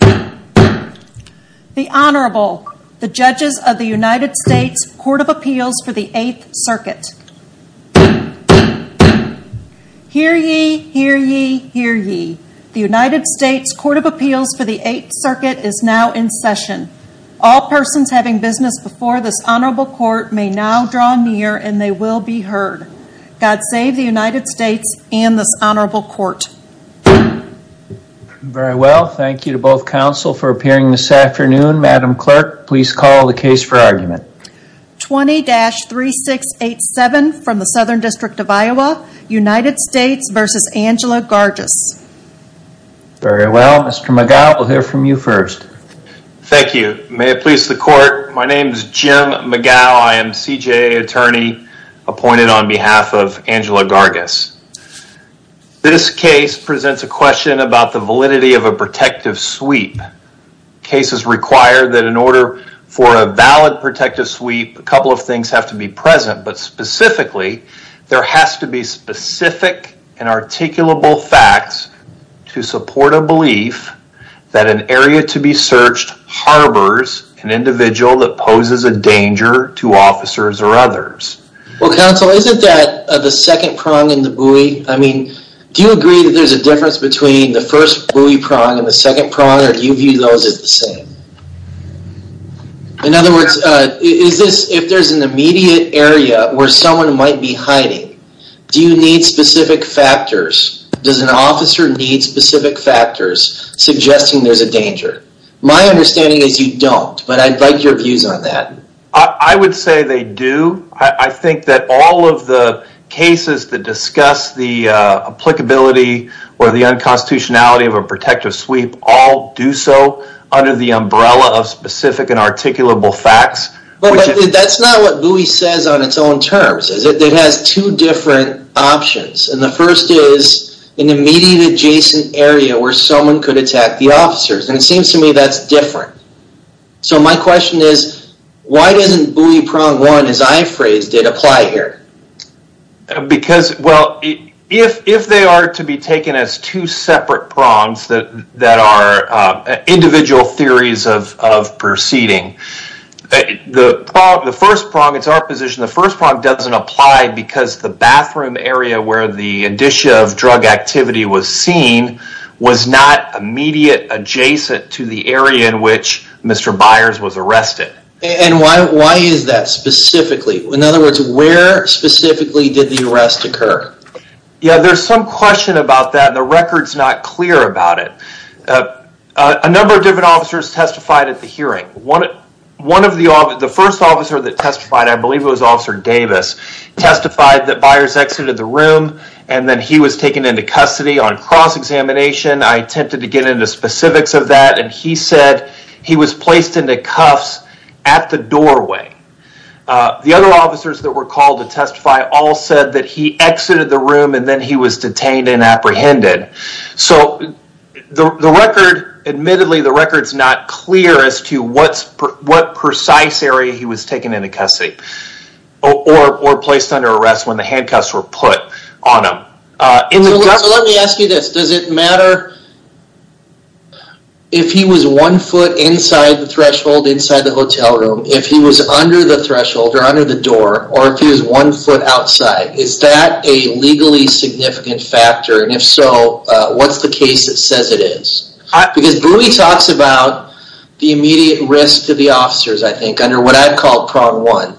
The Honorable, the Judges of the United States Court of Appeals for the 8th Circuit. Hear ye, hear ye, hear ye. The United States Court of Appeals for the 8th Circuit is now in session. All persons having business before this Honorable Court may now draw near and they will be heard. God save the United States and this Honorable Court. Very well. Thank you to both counsel for appearing this afternoon. Madam Clerk, please call the case for argument. 20-3687 from the Southern District of Iowa, United States v. Angela Garges. Very well. Mr. McGough, we'll hear from you first. Thank you. May it please the Court, my name is Jim McGough. I am CJA attorney appointed on behalf of Angela Garges. This case presents a question about the validity of a protective sweep. Cases require that in order for a valid protective sweep, a couple of things have to be present, but specifically, there has to be specific and articulable facts to support a belief that an area to be searched harbors an individual that poses a danger to officers or others. Well, counsel, isn't that the second prong in the buoy? I mean, do you agree that there's a difference between the first buoy prong and the second prong, or do you view those as the same? In other words, is this, if there's an immediate area where someone might be hiding, do you need specific factors? Does an officer need specific factors suggesting there's a danger? My understanding is you don't, but I'd like your views on that. I would say they do. I think that all of the cases that discuss the applicability or the unconstitutionality of a protective sweep all do so under the umbrella of specific and articulable facts. But that's not what buoy says on its own terms. It has two different options, and the first is an immediate adjacent area where someone could attack the officers, and it seems to me that's different. So my question is, why doesn't buoy prong one, as I phrased it, apply here? Because, well, if they are to be taken as two separate prongs that are individual theories of proceeding, the first prong, it's our position, the first prong doesn't apply because the bathroom area where the indicia of drug activity was seen was not immediate adjacent to the area in which Mr. Byers was arrested. And why is that specifically? In other words, where specifically did the arrest occur? Yeah, there's some question about that, and the record's not clear about it. A number of different officers testified at the hearing. The first officer that testified, I believe it was Officer Davis, testified that Byers exited the room and then he was taken into custody on cross-examination. I attempted to get into specifics of that, and he said he was placed into cuffs at the doorway. The other officers that were called to testify all said that he exited the room and then he was detained and apprehended. So the record, admittedly, the record's not clear as to what precise area he was taken into custody or placed under arrest when the handcuffs were put on him. So let me ask you this, does it matter if he was one foot inside the threshold inside the hotel room, if he was under the threshold or under the door, or if he was one foot outside? Is that a legally significant factor, and if so, what's the case that says it is? Because Brewe talks about the immediate risk to the officers, I think, under what I'd call prong one,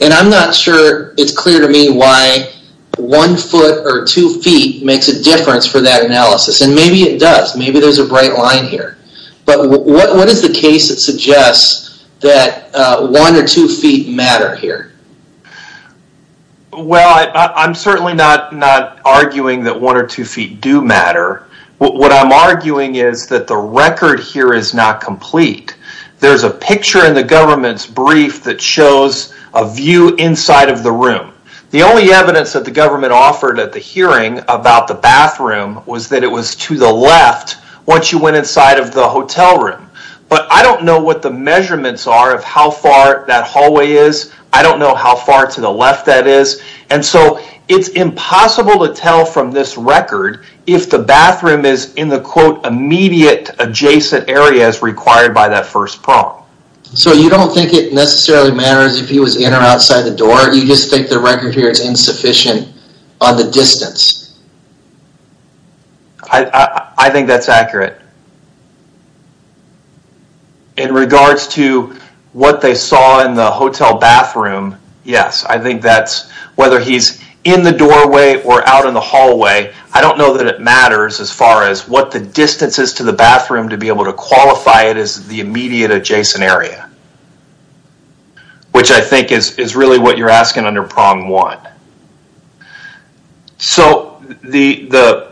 and I'm not sure it's clear to me why one foot or two feet makes a difference for that analysis, and maybe it does, maybe there's a bright line here. But what is the case that suggests that one or two feet matter here? Well, I'm certainly not arguing that one or two feet do matter. What I'm arguing is that the record here is not complete. There's a picture in the government's brief that shows a view inside of the room. The only evidence that the government offered at the hearing about the bathroom was that it was to the left once you went inside of the hotel room. But I don't know what the measurements are of how far that hallway is. I don't know how far to the left that is. And so it's impossible to tell from this record if the bathroom is in the quote immediate adjacent areas required by that first prong. So you don't think it necessarily matters if he was in or outside the door? You just think the record here is insufficient on the distance? I think that's accurate. In regards to what they saw in the hotel bathroom, yes. I think that's whether he's in the doorway or out in the hallway. I don't know that it matters as far as what the distance is to the bathroom to be able to qualify it as the immediate adjacent area. Which I think is really what you're asking under prong one. So the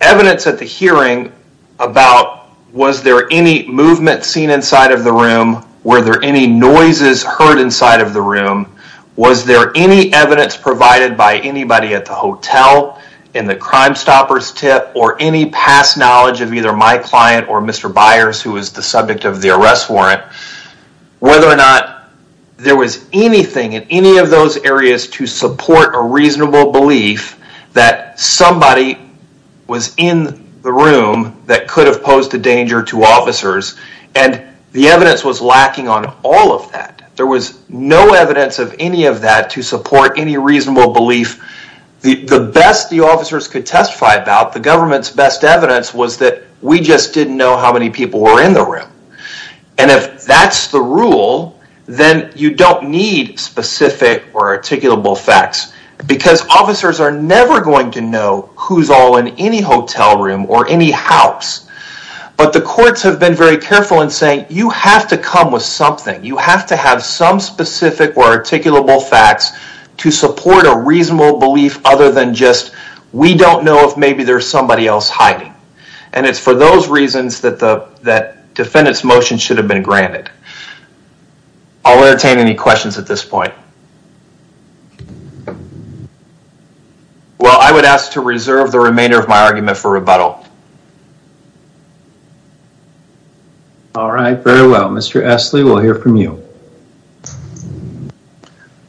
evidence at the hearing about was there any movement seen inside of the room? Were there any noises heard inside of the room? Was there any evidence provided by anybody at the hotel in the Crimestoppers tip or any past knowledge of either my client or Mr. Byers who was the subject of the arrest warrant? Whether or not there was anything in any of those areas to support a reasonable belief that somebody was in the room that could have posed a danger to officers. And the evidence was lacking on all of that. There was no evidence of any of that to support any reasonable belief. The best the officers could testify about, the government's best evidence, was that we just didn't know how many people were in the room. And if that's the rule, then you don't need specific or articulable facts because officers are never going to know who's all in any hotel room or any house. But the courts have been very careful in saying you have to come with something. You have to have some specific or articulable facts to support a reasonable belief other than just we don't know if maybe there's somebody else hiding. And it's for those reasons that the defendant's motion should have been granted. I'll entertain any questions at this point. Well, I would ask to reserve the remainder of my argument for rebuttal. All right. Very well. Mr. Essley, we'll hear from you.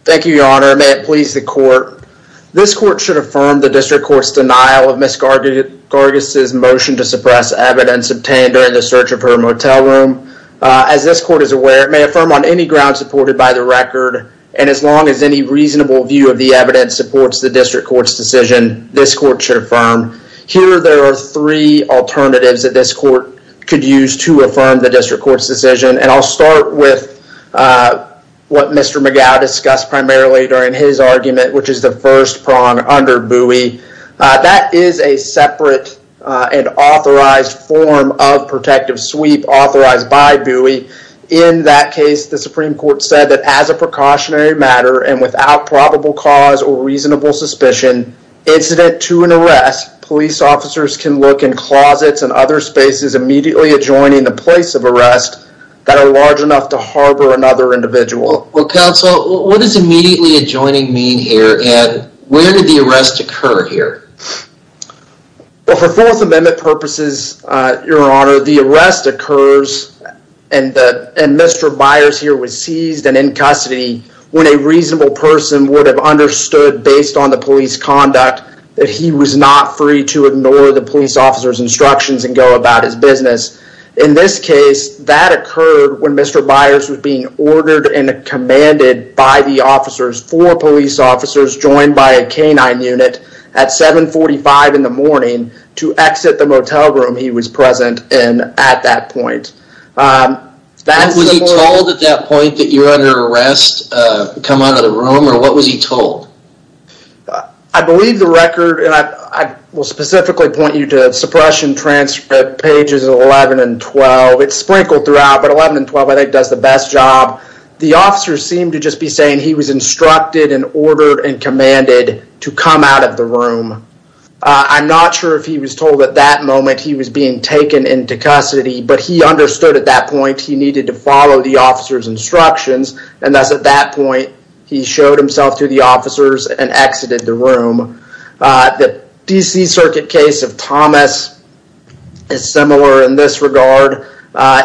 Thank you, Your Honor. May it please the court. This court should affirm the district court's denial of Ms. Gargas' motion to suppress evidence obtained during the search of her motel room. As this court is aware, it may affirm on any ground supported by the record, and as long as any reasonable view of the evidence supports the district court's decision, this court should affirm. Here there are three alternatives that this court could use to affirm the district court's decision. And I'll start with what Mr. McGow discussed primarily during his argument, which is the first prong under Bowie. That is a separate and authorized form of protective sweep authorized by Bowie. In that case, the Supreme Court said that as a precautionary matter and without probable cause or reasonable suspicion, incident to an arrest, police officers can look in closets and other spaces immediately adjoining the place of arrest that are large enough to harbor another individual. Well, counsel, what does immediately adjoining mean here, and where did the arrest occur here? Well, for Fourth Amendment purposes, Your Honor, the arrest occurs, and Mr. Byers here was seized and in custody when a reasonable person would have understood based on the police conduct that he was not free to ignore the police officer's instructions and go about his business. In this case, that occurred when Mr. Byers was being ordered and commanded by the officers, four police officers joined by a canine unit at 745 in the morning to exit the motel room he was present in at that point. Was he told at that point that you're under arrest, come out of the room, or what was he told? I believe the record, and I will specifically point you to Suppression Transcript pages 11 and 12. It's sprinkled throughout, but 11 and 12 I think does the best job. The officers seem to just be saying he was instructed and ordered and commanded to come out of the room. I'm not sure if he was told at that moment he was being taken into custody, but he understood at that point he needed to follow the officer's instructions, and thus at that point he showed himself to the officers and exited the room. The D.C. Circuit case of Thomas is similar in this regard.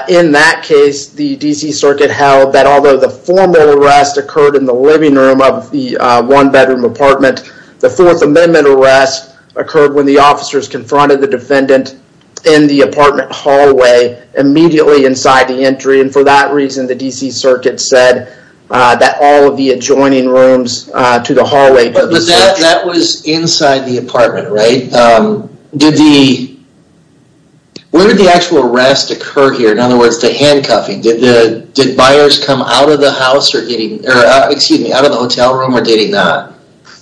In that case, the D.C. Circuit held that although the formal arrest occurred in the living room of the one-bedroom apartment, the Fourth Amendment arrest occurred when the officers confronted the defendant in the apartment hallway immediately inside the entry, and for that reason the D.C. Circuit said that all of the adjoining rooms to the hallway could be searched. But that was inside the apartment, right? Where did the actual arrest occur here? In other words, the handcuffing. Did Byers come out of the hotel room or dating that?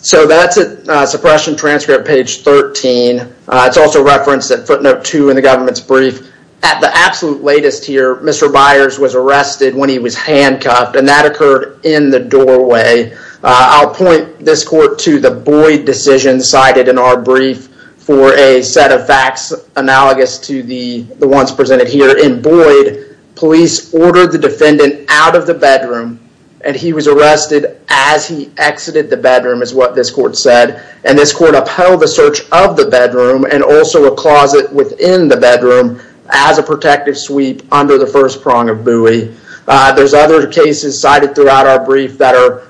So that's at Suppression Transcript, page 13. It's also referenced at footnote 2 in the government's brief. At the absolute latest here, Mr. Byers was arrested when he was handcuffed, and that occurred in the doorway. I'll point this court to the Boyd decision cited in our brief for a set of facts analogous to the ones presented here. In Boyd, police ordered the defendant out of the bedroom, and he was arrested as he exited the bedroom is what this court said, and this court upheld the search of the bedroom and also a closet within the bedroom as a protective sweep under the first prong of Bowie. There's other cases cited throughout our brief that are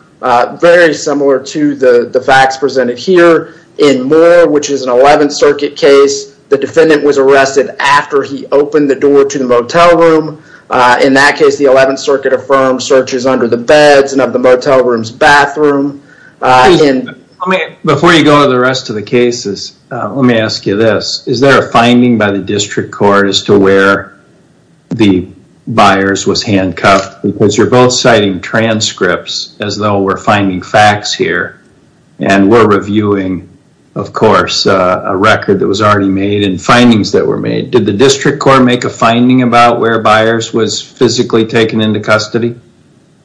very similar to the facts presented here. In Moore, which is an 11th Circuit case, the defendant was arrested after he opened the door to the motel room. In that case, the 11th Circuit affirmed searches under the beds and of the motel room's bathroom. Before you go to the rest of the cases, let me ask you this. Is there a finding by the district court as to where the Byers was handcuffed? Because you're both citing transcripts as though we're finding facts here, and we're reviewing, of course, a record that was already made and findings that were made. Did the district court make a finding about where Byers was physically taken into custody?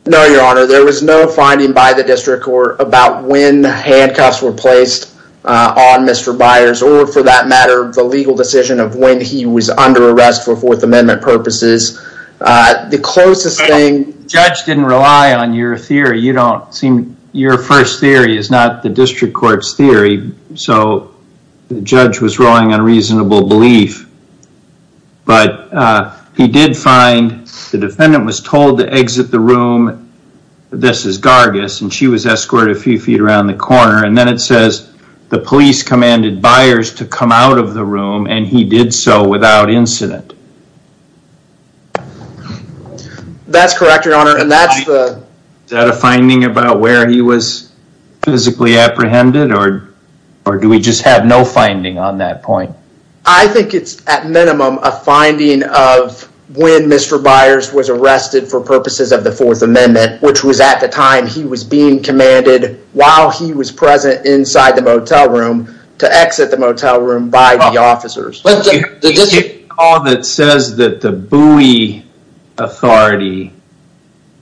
No, Your Honor, there was no finding by the district court about when handcuffs were placed on Mr. Byers or, for that matter, the legal decision of when he was under arrest for Fourth Amendment purposes. The closest thing... The judge didn't rely on your theory. You don't seem... Your first theory is not the district court's theory, so the judge was relying on reasonable belief. But he did find the defendant was told to exit the room. This is Gargis, and she was escorted a few feet around the corner, and then it says the police commanded Byers to come out of the room, and he did so without incident. That's correct, Your Honor, and that's the... Is that a finding about where he was physically apprehended, or do we just have no finding on that point? I think it's, at minimum, a finding of when Mr. Byers was arrested for purposes of the Fourth Amendment, which was at the time he was being commanded while he was present inside the motel room to exit the motel room by the officers. There's a call that says that the Bowie authority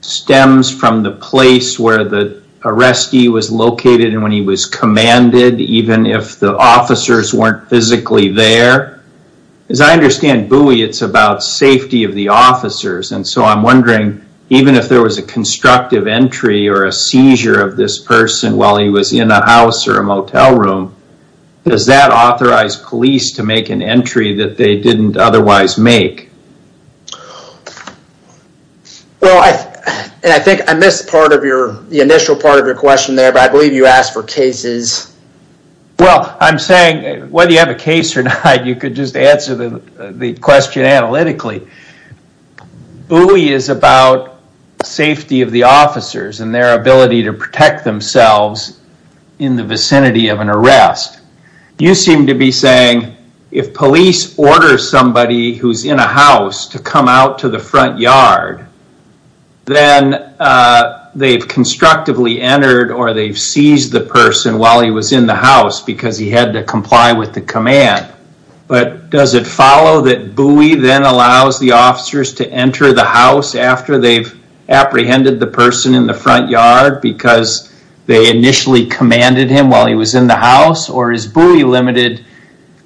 stems from the place where the arrestee was located and when he was commanded, even if the officers weren't physically there. As I understand Bowie, it's about safety of the officers, and so I'm wondering, even if there was a constructive entry or a seizure of this person while he was in a house or a motel room, does that authorize police to make an entry that they didn't otherwise make? I think I missed the initial part of your question there, but I believe you asked for cases. Well, I'm saying whether you have a case or not, you could just answer the question analytically. Bowie is about safety of the officers and their ability to protect themselves in the vicinity of an arrest. You seem to be saying if police order somebody who's in a house to come out to the front yard, then they've constructively entered or they've seized the person while he was in the house because he had to comply with the command. But does it follow that Bowie then allows the officers to enter the house after they've apprehended the person in the front yard because they initially commanded him while he was in the house, or is Bowie limited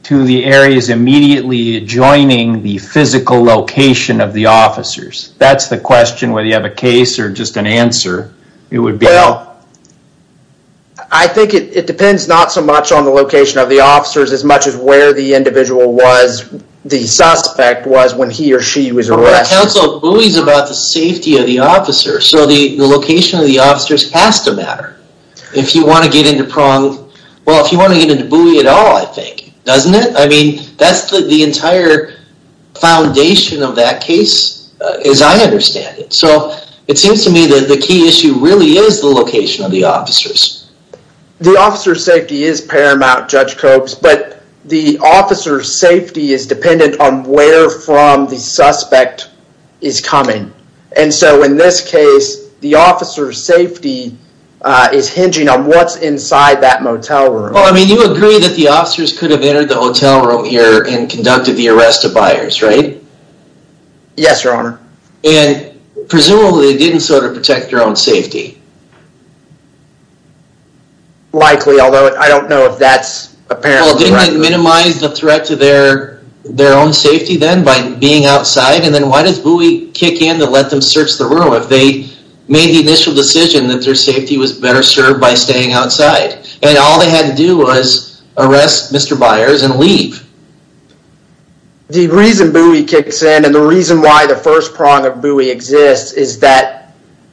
to the areas immediately adjoining the physical location of the officers? That's the question, whether you have a case or just an answer. Well, I think it depends not so much on the location of the officers as much as where the individual was, the suspect was, when he or she was arrested. Council, Bowie's about the safety of the officers, so the location of the officers has to matter. If you want to get into Prong, well, if you want to get into Bowie at all, I think, doesn't it? I mean, that's the entire foundation of that case, as I understand it. So it seems to me that the key issue really is the location of the officers. The officer's safety is paramount, Judge Kobes, but the officer's safety is dependent on where from the suspect is coming. And so in this case, the officer's safety is hinging on what's inside that motel room. Well, I mean, you agree that the officers could have entered the hotel room here and conducted the arrest of buyers, right? Yes, Your Honor. And presumably, they didn't sort of protect their own safety. Likely, although I don't know if that's apparently right. Well, didn't they minimize the threat to their own safety then by being outside? And then why does Bowie kick in to let them search the room if they made the initial decision that their safety was better served by staying outside? And all they had to do was arrest Mr. Byers and leave. The reason Bowie kicks in and the reason why the first Prong of Bowie exists is that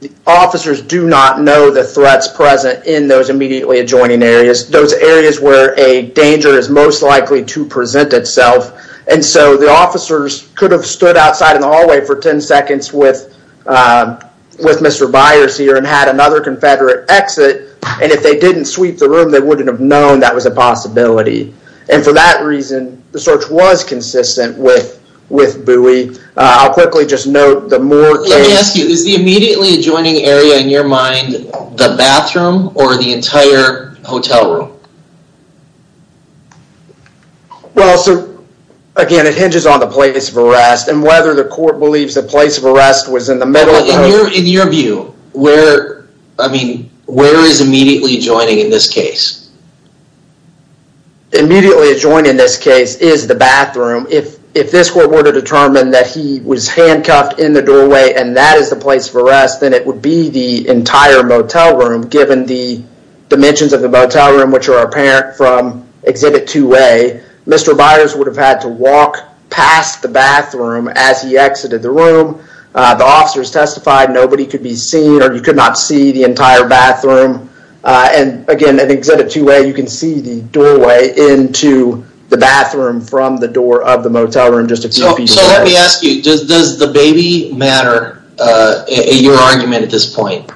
the officers do not know the threats present in those immediately adjoining areas, those areas where a danger is most likely to present itself. And so the officers could have stood outside in the hallway for 10 seconds with Mr. Byers here and had another Confederate exit. And if they didn't sweep the room, they wouldn't have known that was a possibility. And for that reason, the search was consistent with Bowie. I'll quickly just note the Moore case. Let me ask you, is the immediately adjoining area in your mind the bathroom or the entire hotel room? Well, so again, it hinges on the place of arrest and whether the court believes the place of arrest was in the middle of the hotel room. In your view, where is immediately adjoining in this case? Immediately adjoining in this case is the bathroom. If this court were to determine that he was handcuffed in the doorway and that is the place of arrest, then it would be the entire motel room given the dimensions of the motel room, which are apparent from Exhibit 2A. Mr. Byers would have had to walk past the bathroom as he exited the room. The officers testified nobody could be seen or you could not see the entire bathroom. And again, in Exhibit 2A, you can see the doorway into the bathroom from the door of the motel room. So let me ask you, does the baby matter in your argument at this point?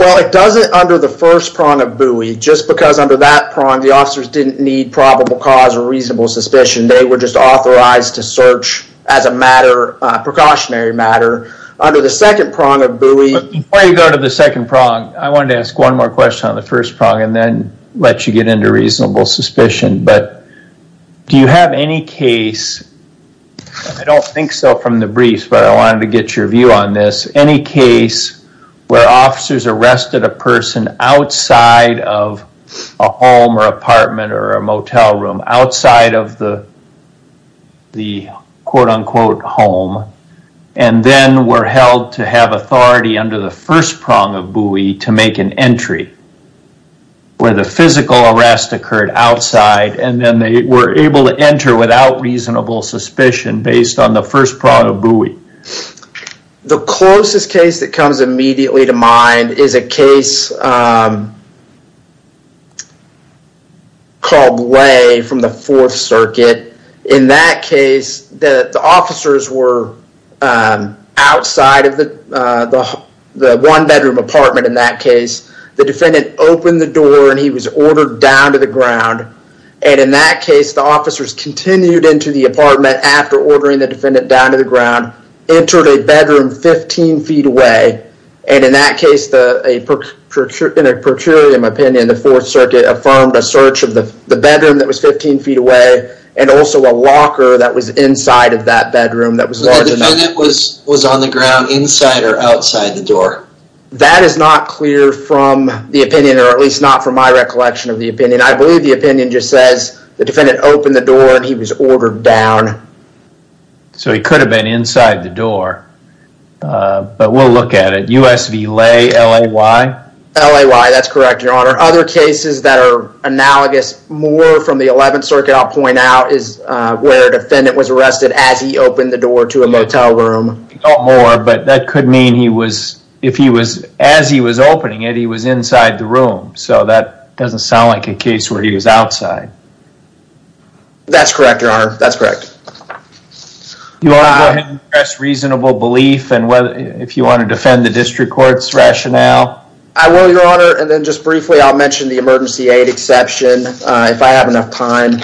Well, it doesn't under the first prong of Bowie. Just because under that prong, the officers didn't need probable cause or reasonable suspicion. They were just authorized to search as a matter, a precautionary matter. Under the second prong of Bowie... Before you go to the second prong, I wanted to ask one more question on the first prong and then let you get into reasonable suspicion. But do you have any case, I don't think so from the briefs, but I wanted to get your view on this. Is there any case where officers arrested a person outside of a home or apartment or a motel room, outside of the quote-unquote home and then were held to have authority under the first prong of Bowie to make an entry where the physical arrest occurred outside and then they were able to enter without reasonable suspicion based on the first prong of Bowie? The closest case that comes immediately to mind is a case called Lay from the Fourth Circuit. In that case, the officers were outside of the one-bedroom apartment in that case. The defendant opened the door and he was ordered down to the ground. And in that case, the officers continued into the apartment after ordering the defendant down to the ground, entered a bedroom 15 feet away. And in that case, in a per curiam opinion, the Fourth Circuit affirmed a search of the bedroom that was 15 feet away and also a locker that was inside of that bedroom that was large enough. The defendant was on the ground inside or outside the door? That is not clear from the opinion or at least not from my recollection of the opinion. I believe the opinion just says the defendant opened the door and he was ordered down. So he could have been inside the door. But we'll look at it. U.S. v. Lay, L.A.Y.? L.A.Y., that's correct, Your Honor. Other cases that are analogous more from the Eleventh Circuit, I'll point out, is where a defendant was arrested as he opened the door to a motel room. Not more, but that could mean he was, if he was, as he was opening it, he was inside the room. So that doesn't sound like a case where he was outside. That's correct, Your Honor. That's correct. You want to address reasonable belief and if you want to defend the district court's rationale? I will, Your Honor. And then just briefly, I'll mention the emergency aid exception if I have enough time.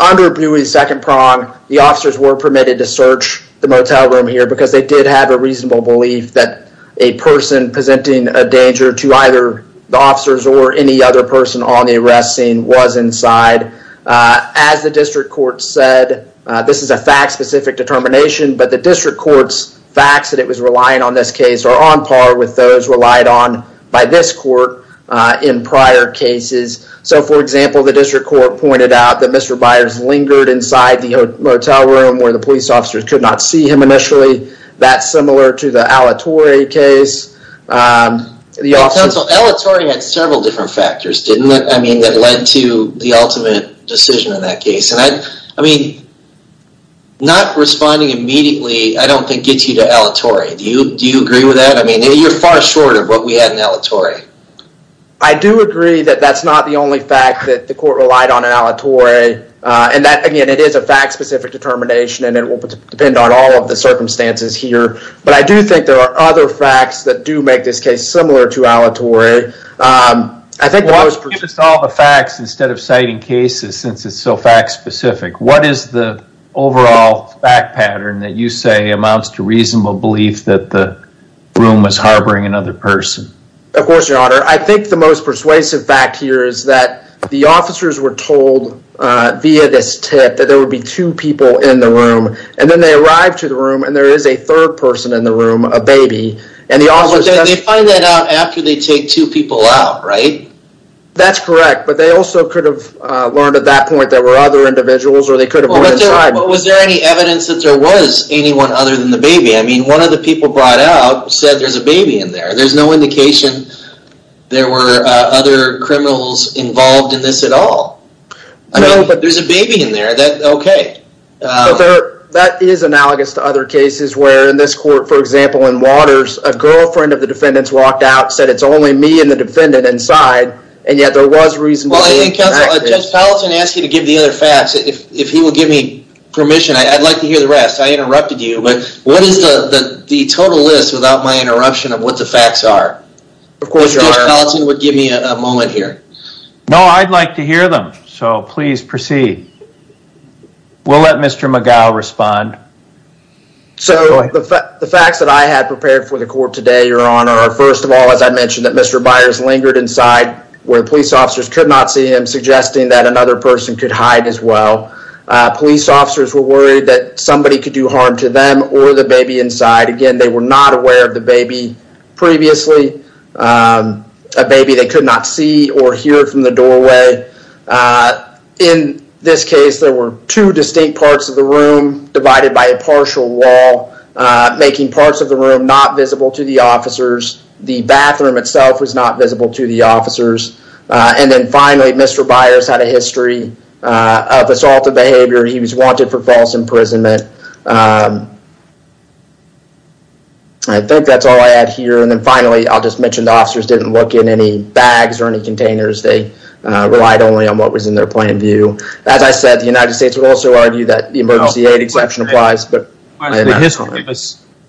Under Buie's second prong, the officers were permitted to search the motel room here because they did have a reasonable belief that a person presenting a danger to either the officers or any other person on the arrest scene was inside. As the district court said, this is a fact-specific determination, but the district court's facts that it was relying on this case are on par with those relied on by this court in prior cases. So, for example, the district court pointed out that Mr. Byers lingered inside the motel room where the police officers could not see him initially. That's similar to the Alatorre case. Counsel, Alatorre had several different factors, didn't it? I mean, that led to the ultimate decision in that case. And I mean, not responding immediately, I don't think, gets you to Alatorre. Do you agree with that? I mean, you're far short of what we had in Alatorre. I do agree that that's not the only fact that the court relied on in Alatorre. And that, again, it is a fact-specific determination and it will depend on all of the circumstances here. But I do think there are other facts that do make this case similar to Alatorre. Well, give us all the facts instead of citing cases, since it's so fact-specific. What is the overall fact pattern that you say amounts to reasonable belief that the room was harboring another person? Of course, Your Honor. I think the most persuasive fact here is that the officers were told via this tip that there would be two people in the room. And then they arrived to the room and there is a third person in the room, a baby. And the officers... But they find that out after they take two people out, right? That's correct. But they also could have learned at that point there were other individuals or they could have went inside. But was there any evidence that there was anyone other than the baby? I mean, one of the people brought out said there's a baby in there. There's no indication there were other criminals involved in this at all. I mean, there's a baby in there. That's okay. But that is analogous to other cases where in this court, for example, in Waters, a girlfriend of the defendant's walked out, said, it's only me and the defendant inside. And yet there was reasonable belief. Well, I think Judge Palatine asked you to give the other facts. If he will give me permission, I'd like to hear the rest. I interrupted you. But what is the total list without my interruption of what the facts are? Of course, Your Honor. Judge Palatine would give me a moment here. No, I'd like to hear them. So please proceed. We'll let Mr. McGough respond. So the facts that I had prepared for the court today, Your Honor, are first of all, as I mentioned, that Mr. Byers lingered inside where the police officers could not see him, suggesting that another person could hide as well. Police officers were worried that somebody could do harm to them or the baby inside. Again, they were not aware of the baby previously, a baby they could not see or hear from the doorway. In this case, there were two distinct parts of the room divided by a partial wall, making parts of the room not visible to the officers. The bathroom itself was not visible to the officers. And then finally, Mr. Byers had a history of assaultive behavior. He was wanted for false imprisonment. I think that's all I had here. And then finally, I'll just mention the officers didn't look in any bags or any containers. They relied only on what was in their point of view. As I said, the United States would also argue that the emergency aid exception applies.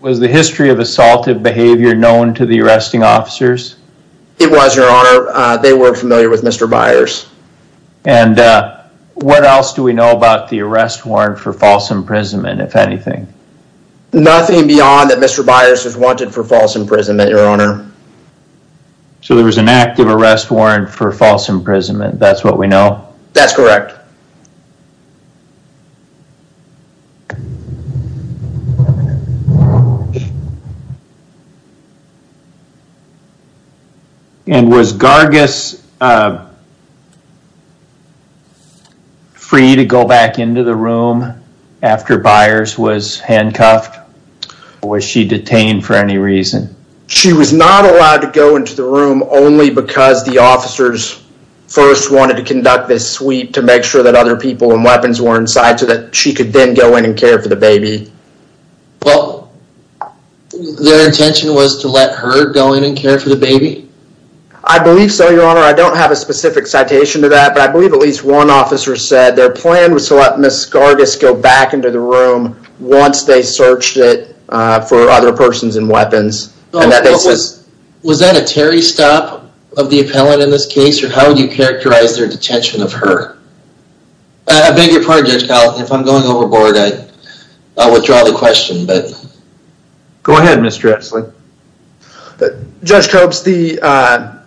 Was the history of assaultive behavior known to the arresting officers? It was, Your Honor. They weren't familiar with Mr. Byers. And what else do we know about the arrest warrant for false imprisonment, if anything? Nothing beyond that Mr. Byers was wanted for false imprisonment, Your Honor. So there was an active arrest warrant for false imprisonment. That's what we know? That's correct. And was Gargis free to go back into the room after Byers was handcuffed? Or was she detained for any reason? She was not allowed to go into the room only because the officers first wanted to conduct this sweep to make sure that other people and weapons were inside so that she could then go in and care for the baby. Well, their intention was to let her go in and care for the baby? I believe so, Your Honor. I don't have a specific citation to that, but I believe at least one officer said their plan was to let Ms. Gargis go back into the room once they searched it for other persons and weapons. Was that a Terry stop of the appellant in this case? Or how would you characterize their detention of her? I beg your pardon, Judge Collin. If I'm going overboard, I withdraw the question. Go ahead, Mr. Exley. Judge Copes, the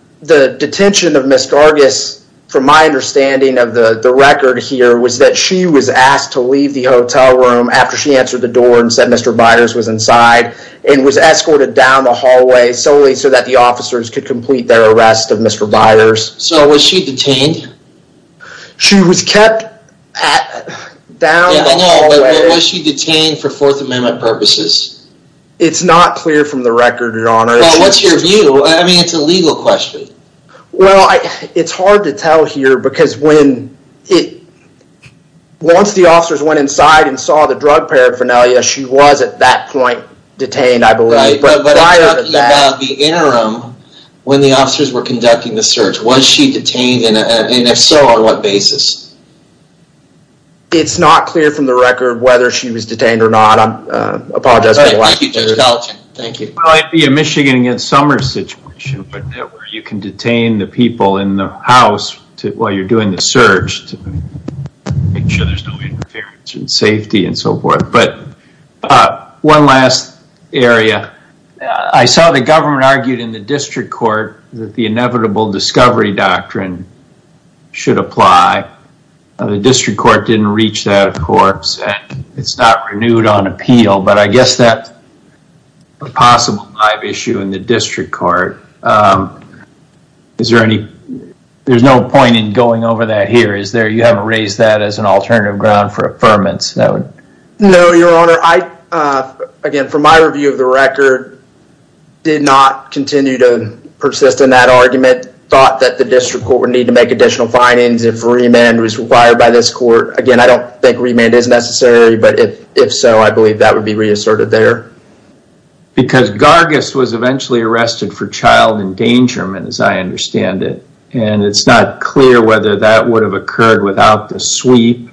detention of Ms. Gargis, from my understanding of the record here, was that she was asked to leave the hotel room after she answered the door and said Mr. Byers was inside and was escorted down the hallway solely so that the officers could complete their arrest of Mr. Byers. So was she detained? She was kept down the hallway. Was she detained for Fourth Amendment purposes? It's not clear from the record, Your Honor. Well, what's your view? I mean, it's a legal question. Well, it's hard to tell here because when it... drug paraphernalia, she was at that point detained, I believe. But prior to that... But you're talking about the interim when the officers were conducting the search. Was she detained? And if so, on what basis? It's not clear from the record whether she was detained or not. I apologize for the lack of... Thank you, Judge Collin. Thank you. Well, it'd be a Michigan against summer situation where you can detain the people in the house while you're doing the search to make sure there's no interference in safety and so forth. But one last area. I saw the government argued in the district court that the inevitable discovery doctrine should apply. The district court didn't reach that, of course, and it's not renewed on appeal. But I guess that's a possible live issue in the district court. Is there any... There's no point in going over that here, is there? You haven't raised that as an alternative ground for affirmance. No, Your Honor. Again, from my review of the record, did not continue to persist in that argument. Thought that the district court would need to make additional findings if remand was required by this court. Again, I don't think remand is necessary, but if so, I believe that would be reasserted there. Because Gargis was eventually arrested for child endangerment, as I understand it, and it's not clear whether that would have occurred without the sweep,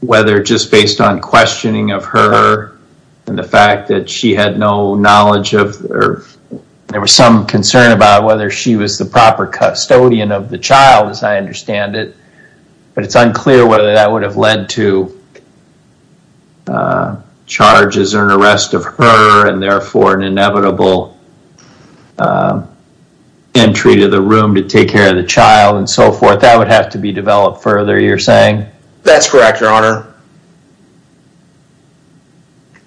whether just based on questioning of her and the fact that she had no knowledge of... There was some concern about whether she was the proper custodian of the child, as I understand it, but it's unclear whether that would have led to charges or an arrest of her and, therefore, an inevitable entry to the room to take care of the child and so forth. That would have to be developed further, you're saying? That's correct, Your Honor.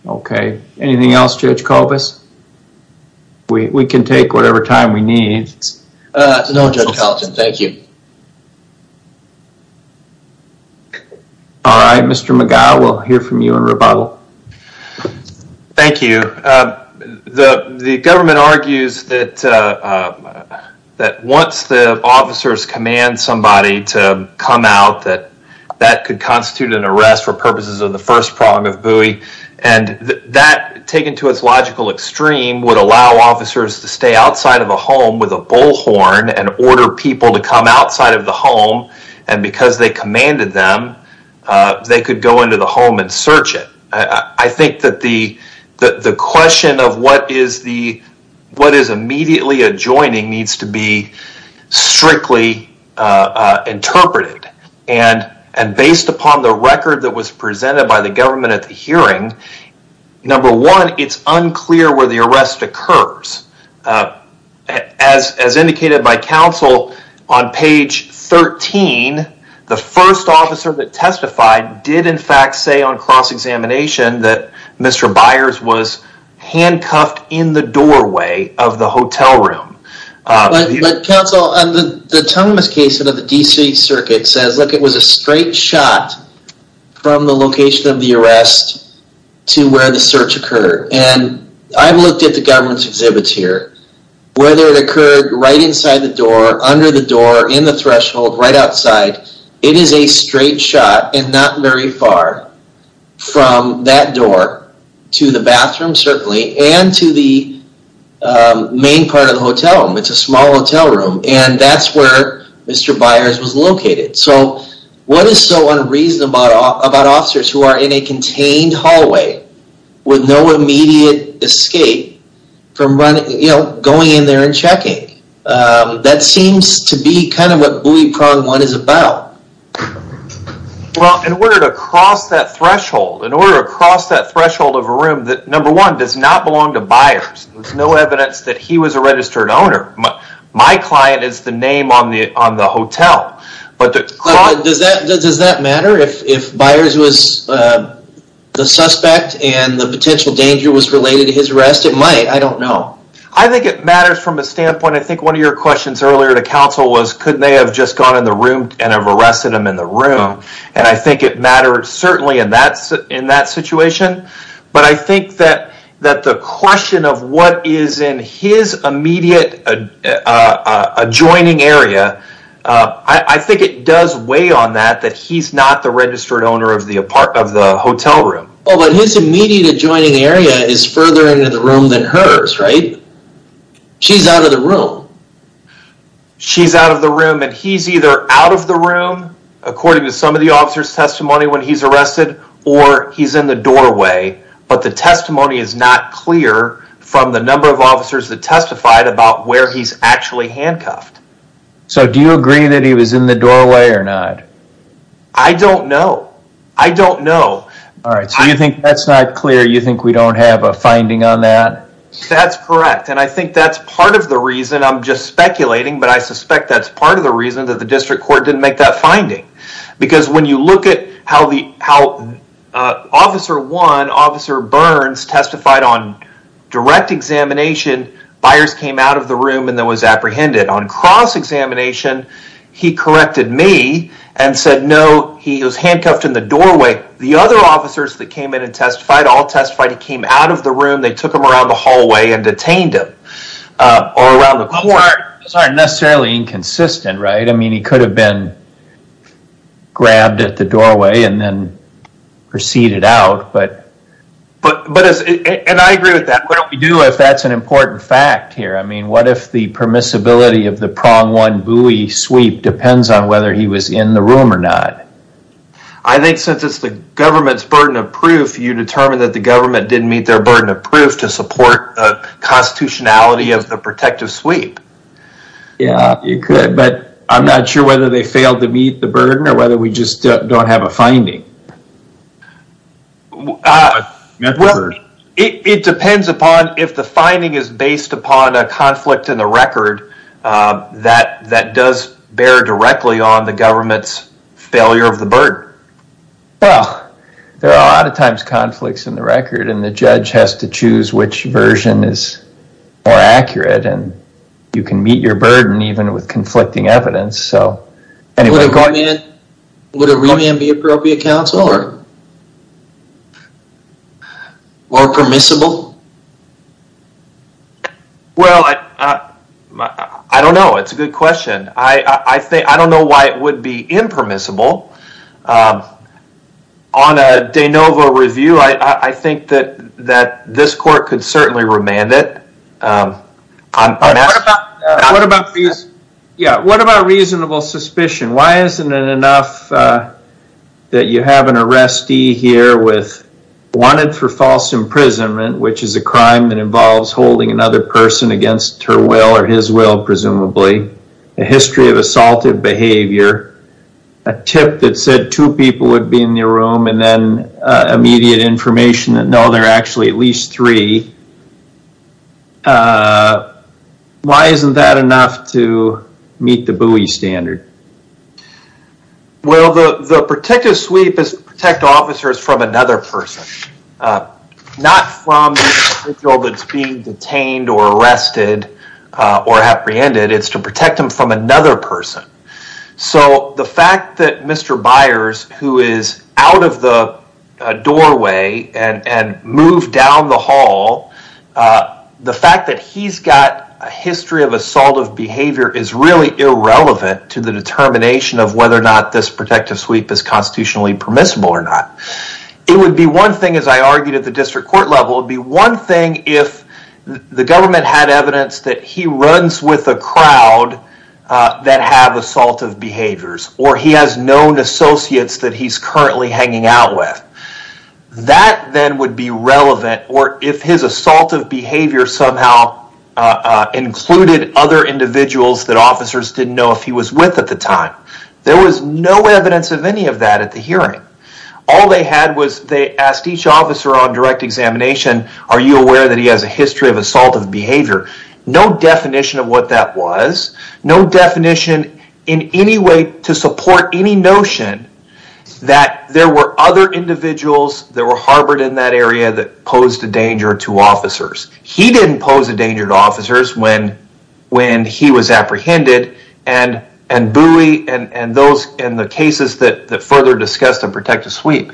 Okay. Anything else, Judge Kopas? We can take whatever time we need. No, Judge Carlton, thank you. All right, Mr. McGow, we'll hear from you in rebuttal. Thank you. The government argues that once the officers command somebody to come out, that that could constitute an arrest for purposes of the first prong of buoy, and that, taken to its logical extreme, would allow officers to stay outside of a home with a bullhorn and order people to come outside of the home, and because they commanded them, they could go into the home and search it. I think that the question of what is immediately adjoining needs to be strictly interpreted, and based upon the record that was presented by the government at the hearing, number one, it's unclear where the arrest occurs. As indicated by counsel on page 13, the first officer that testified did, in fact, say on cross-examination that Mr. Byers was handcuffed in the doorway of the hotel room. But, counsel, the Tungmas case under the D.C. Circuit says, look, it was a straight shot from the location of the arrest to where the search occurred, and I've looked at the government's exhibits here. Whether it occurred right inside the door, under the door, in the threshold, right outside, it is a straight shot and not very far from that door to the bathroom, certainly, and to the main part of the hotel room. It's a small hotel room, and that's where Mr. Byers was located. So what is so unreasonable about officers who are in a contained hallway with no immediate escape from going in there and checking? That seems to be kind of what Buoy Prong One is about. Well, in order to cross that threshold, in order to cross that threshold of a room that, number one, does not belong to Byers, there's no evidence that he was a registered owner, my client is the name on the hotel, Does that matter if Byers was the suspect and the potential danger was related to his arrest? It might. I don't know. I think it matters from a standpoint. I think one of your questions earlier to counsel was, couldn't they have just gone in the room and have arrested him in the room? And I think it mattered, certainly, in that situation. But I think that the question of what is in his immediate adjoining area, I think it does weigh on that that he's not the registered owner of the hotel room. Oh, but his immediate adjoining area is further into the room than hers, right? She's out of the room. She's out of the room and he's either out of the room, according to some of the officers' testimony when he's arrested, or he's in the doorway. But the testimony is not clear from the number of officers that testified about where he's actually handcuffed. So do you agree that he was in the doorway or not? I don't know. I don't know. All right, so you think that's not clear? You think we don't have a finding on that? That's correct, and I think that's part of the reason. I'm just speculating, but I suspect that's part of the reason that the district court didn't make that finding. Because when you look at how Officer Burns testified on direct examination, Byers came out of the room and then was apprehended. On cross-examination, he corrected me and said, no, he was handcuffed in the doorway. The other officers that came in and testified all testified he came out of the room, they took him around the hallway and detained him, or around the court. Those aren't necessarily inconsistent, right? I mean, he could have been grabbed at the doorway and then proceeded out. And I agree with that. What do we do if that's an important fact here? I mean, what if the permissibility of the prong one buoy sweep depends on whether he was in the room or not? I think since it's the government's burden of proof, you determine that the government didn't meet their burden of proof to support the constitutionality of the protective sweep. Yeah, you could, but I'm not sure whether they failed to meet the burden or whether we just don't have a finding. It depends upon if the finding is based upon a conflict in the record that does bear directly on the government's failure of the burden. Well, there are a lot of times conflicts in the record and the judge has to choose which version is more accurate and you can meet your burden even with conflicting evidence. Would a remand be appropriate, counsel, or permissible? Well, I don't know. It's a good question. I don't know why it would be impermissible. On a de novo review, I think that this court could certainly remand it. What about reasonable suspicion? Why isn't it enough that you have an arrestee here with wanted for false imprisonment, which is a crime that involves holding another person against her will or his will, presumably, a history of assaultive behavior, a tip that said two people would be in the room, and then immediate information that no, there are actually at least three. Why isn't that enough to meet the Bowie standard? Well, the protective sweep is to protect officers from another person, not from the individual that's being detained or arrested or apprehended. It's to protect them from another person. So the fact that Mr. Byers, who is out of the doorway and moved down the hall, the fact that he's got a history of assaultive behavior is really irrelevant to the determination of whether or not this protective sweep is constitutionally permissible or not. It would be one thing, as I argued at the district court level, it would be one thing if the government had evidence that he runs with a crowd that have assaultive behaviors or he has known associates that he's currently hanging out with. That then would be relevant or if his assaultive behavior somehow included other individuals that officers didn't know if he was with at the time. There was no evidence of any of that at the hearing. All they had was they asked each officer on direct examination, are you aware that he has a history of assaultive behavior? No definition of what that was, no definition in any way to support any notion that there were other individuals that were harbored in that area that posed a danger to officers. He didn't pose a danger to officers when he was apprehended and Bowie and those in the cases that further discussed the protective sweep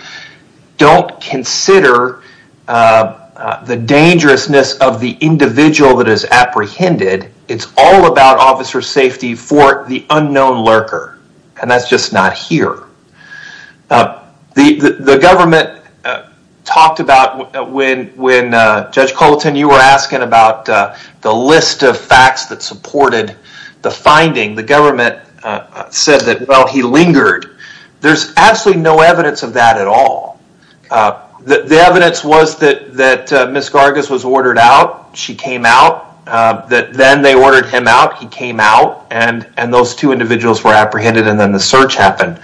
don't consider the dangerousness of the individual that is apprehended. It's all about officer safety for the unknown lurker and that's just not here. The government talked about when Judge Colton, you were asking about the list of facts that supported the finding, the government said that, well, he lingered. There's absolutely no evidence of that at all. The evidence was that Ms. Gargas was ordered out, she came out, that then they ordered him out, he came out, and those two individuals were apprehended and then the search happened.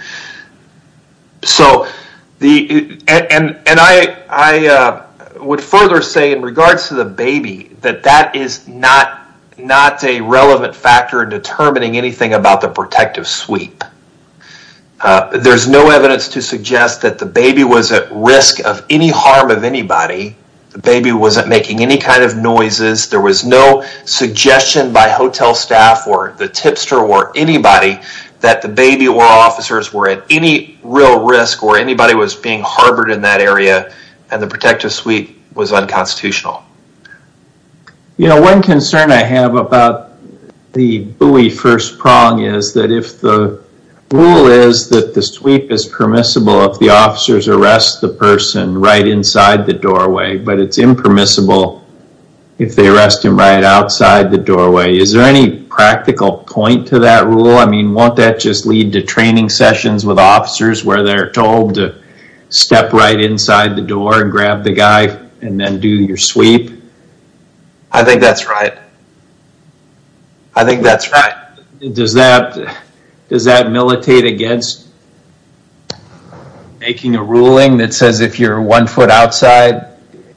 And I would further say in regards to the baby that that is not a relevant factor in determining anything about the protective sweep. There's no evidence to suggest that the baby was at risk of any harm of anybody. The baby wasn't making any kind of noises. There was no suggestion by hotel staff or the tipster or anybody that the baby or officers were at any real risk or anybody was being harbored in that area and the protective sweep was unconstitutional. One concern I have about the Bowie first prong is that if the rule is that the sweep is permissible if the officers arrest the person right inside the doorway but it's impermissible if they arrest him right outside the doorway. Is there any practical point to that rule? I mean, won't that just lead to training sessions with officers where they're told to step right inside the door and grab the guy and then do your sweep? I think that's right. I think that's right. Does that militate against making a ruling that says if you're one foot outside,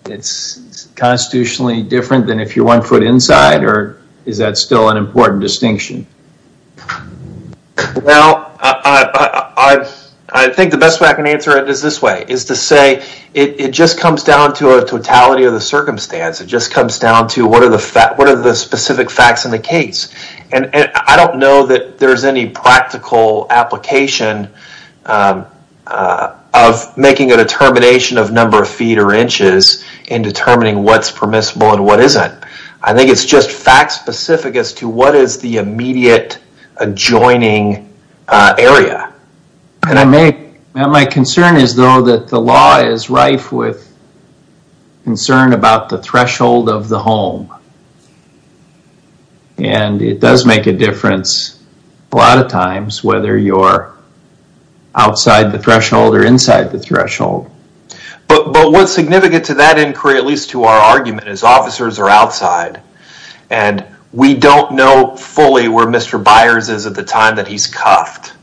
it's constitutionally different than if you're one foot inside? Or is that still an important distinction? Well, I think the best way I can answer it is this way, is to say it just comes down to a totality of the circumstance. It just comes down to what are the specific facts in the case? I don't know that there's any practical application of making a determination of number of feet or inches in determining what's permissible and what isn't. I think it's just fact-specific as to what is the immediate adjoining area. My concern is, though, that the law is rife with concern about the threshold of the home. And it does make a difference a lot of times whether you're outside the threshold or inside the threshold. But what's significant to that inquiry, at least to our argument, is officers are outside. And we don't know fully where Mr. Byers is at the time that he's cuffed.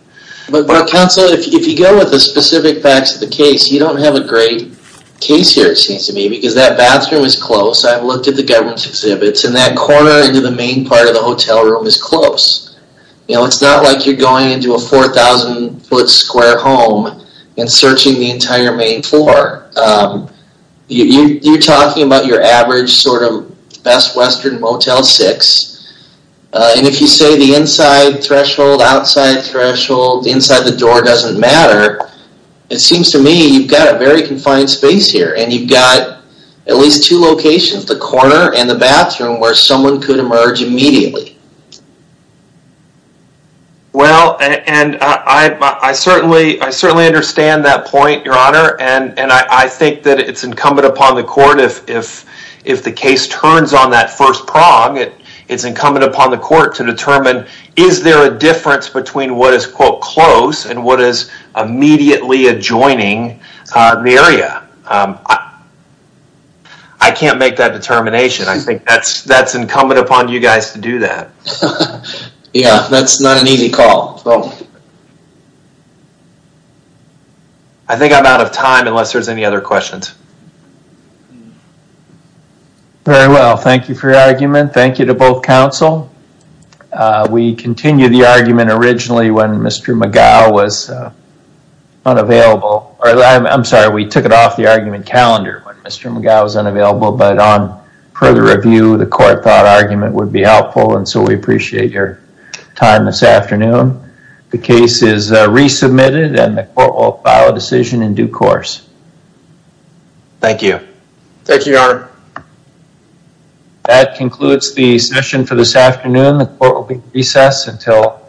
But, counsel, if you go with the specific facts of the case, you don't have a great case here, it seems to me, because that bathroom is close. I've looked at the government's exhibits. And that corner into the main part of the hotel room is close. You know, it's not like you're going into a 4,000-foot square home and searching the entire main floor. You're talking about your average sort of Best Western Motel 6. And if you say the inside threshold, outside threshold, inside the door doesn't matter, it seems to me you've got a very confined space here. And you've got at least two locations, the corner and the bathroom, where someone could emerge immediately. Well, and I certainly understand that point, Your Honor. And I think that it's incumbent upon the court, if the case turns on that first prong, it's incumbent upon the court to determine, is there a difference between what is, quote, close and what is immediately adjoining the area? I can't make that determination. I think that's incumbent upon you guys to do that. Yeah, that's not an easy call. I think I'm out of time unless there's any other questions. Very well, thank you for your argument. Thank you to both counsel. We continued the argument originally when Mr. McGough was unavailable. I'm sorry, we took it off the argument calendar when Mr. McGough was unavailable. But on further review, the court thought argument would be helpful. And so we appreciate your time this afternoon. The case is resubmitted and the court will file a decision in due course. Thank you. Thank you, Your Honor. That concludes the session for this afternoon. The court will recess until further notice.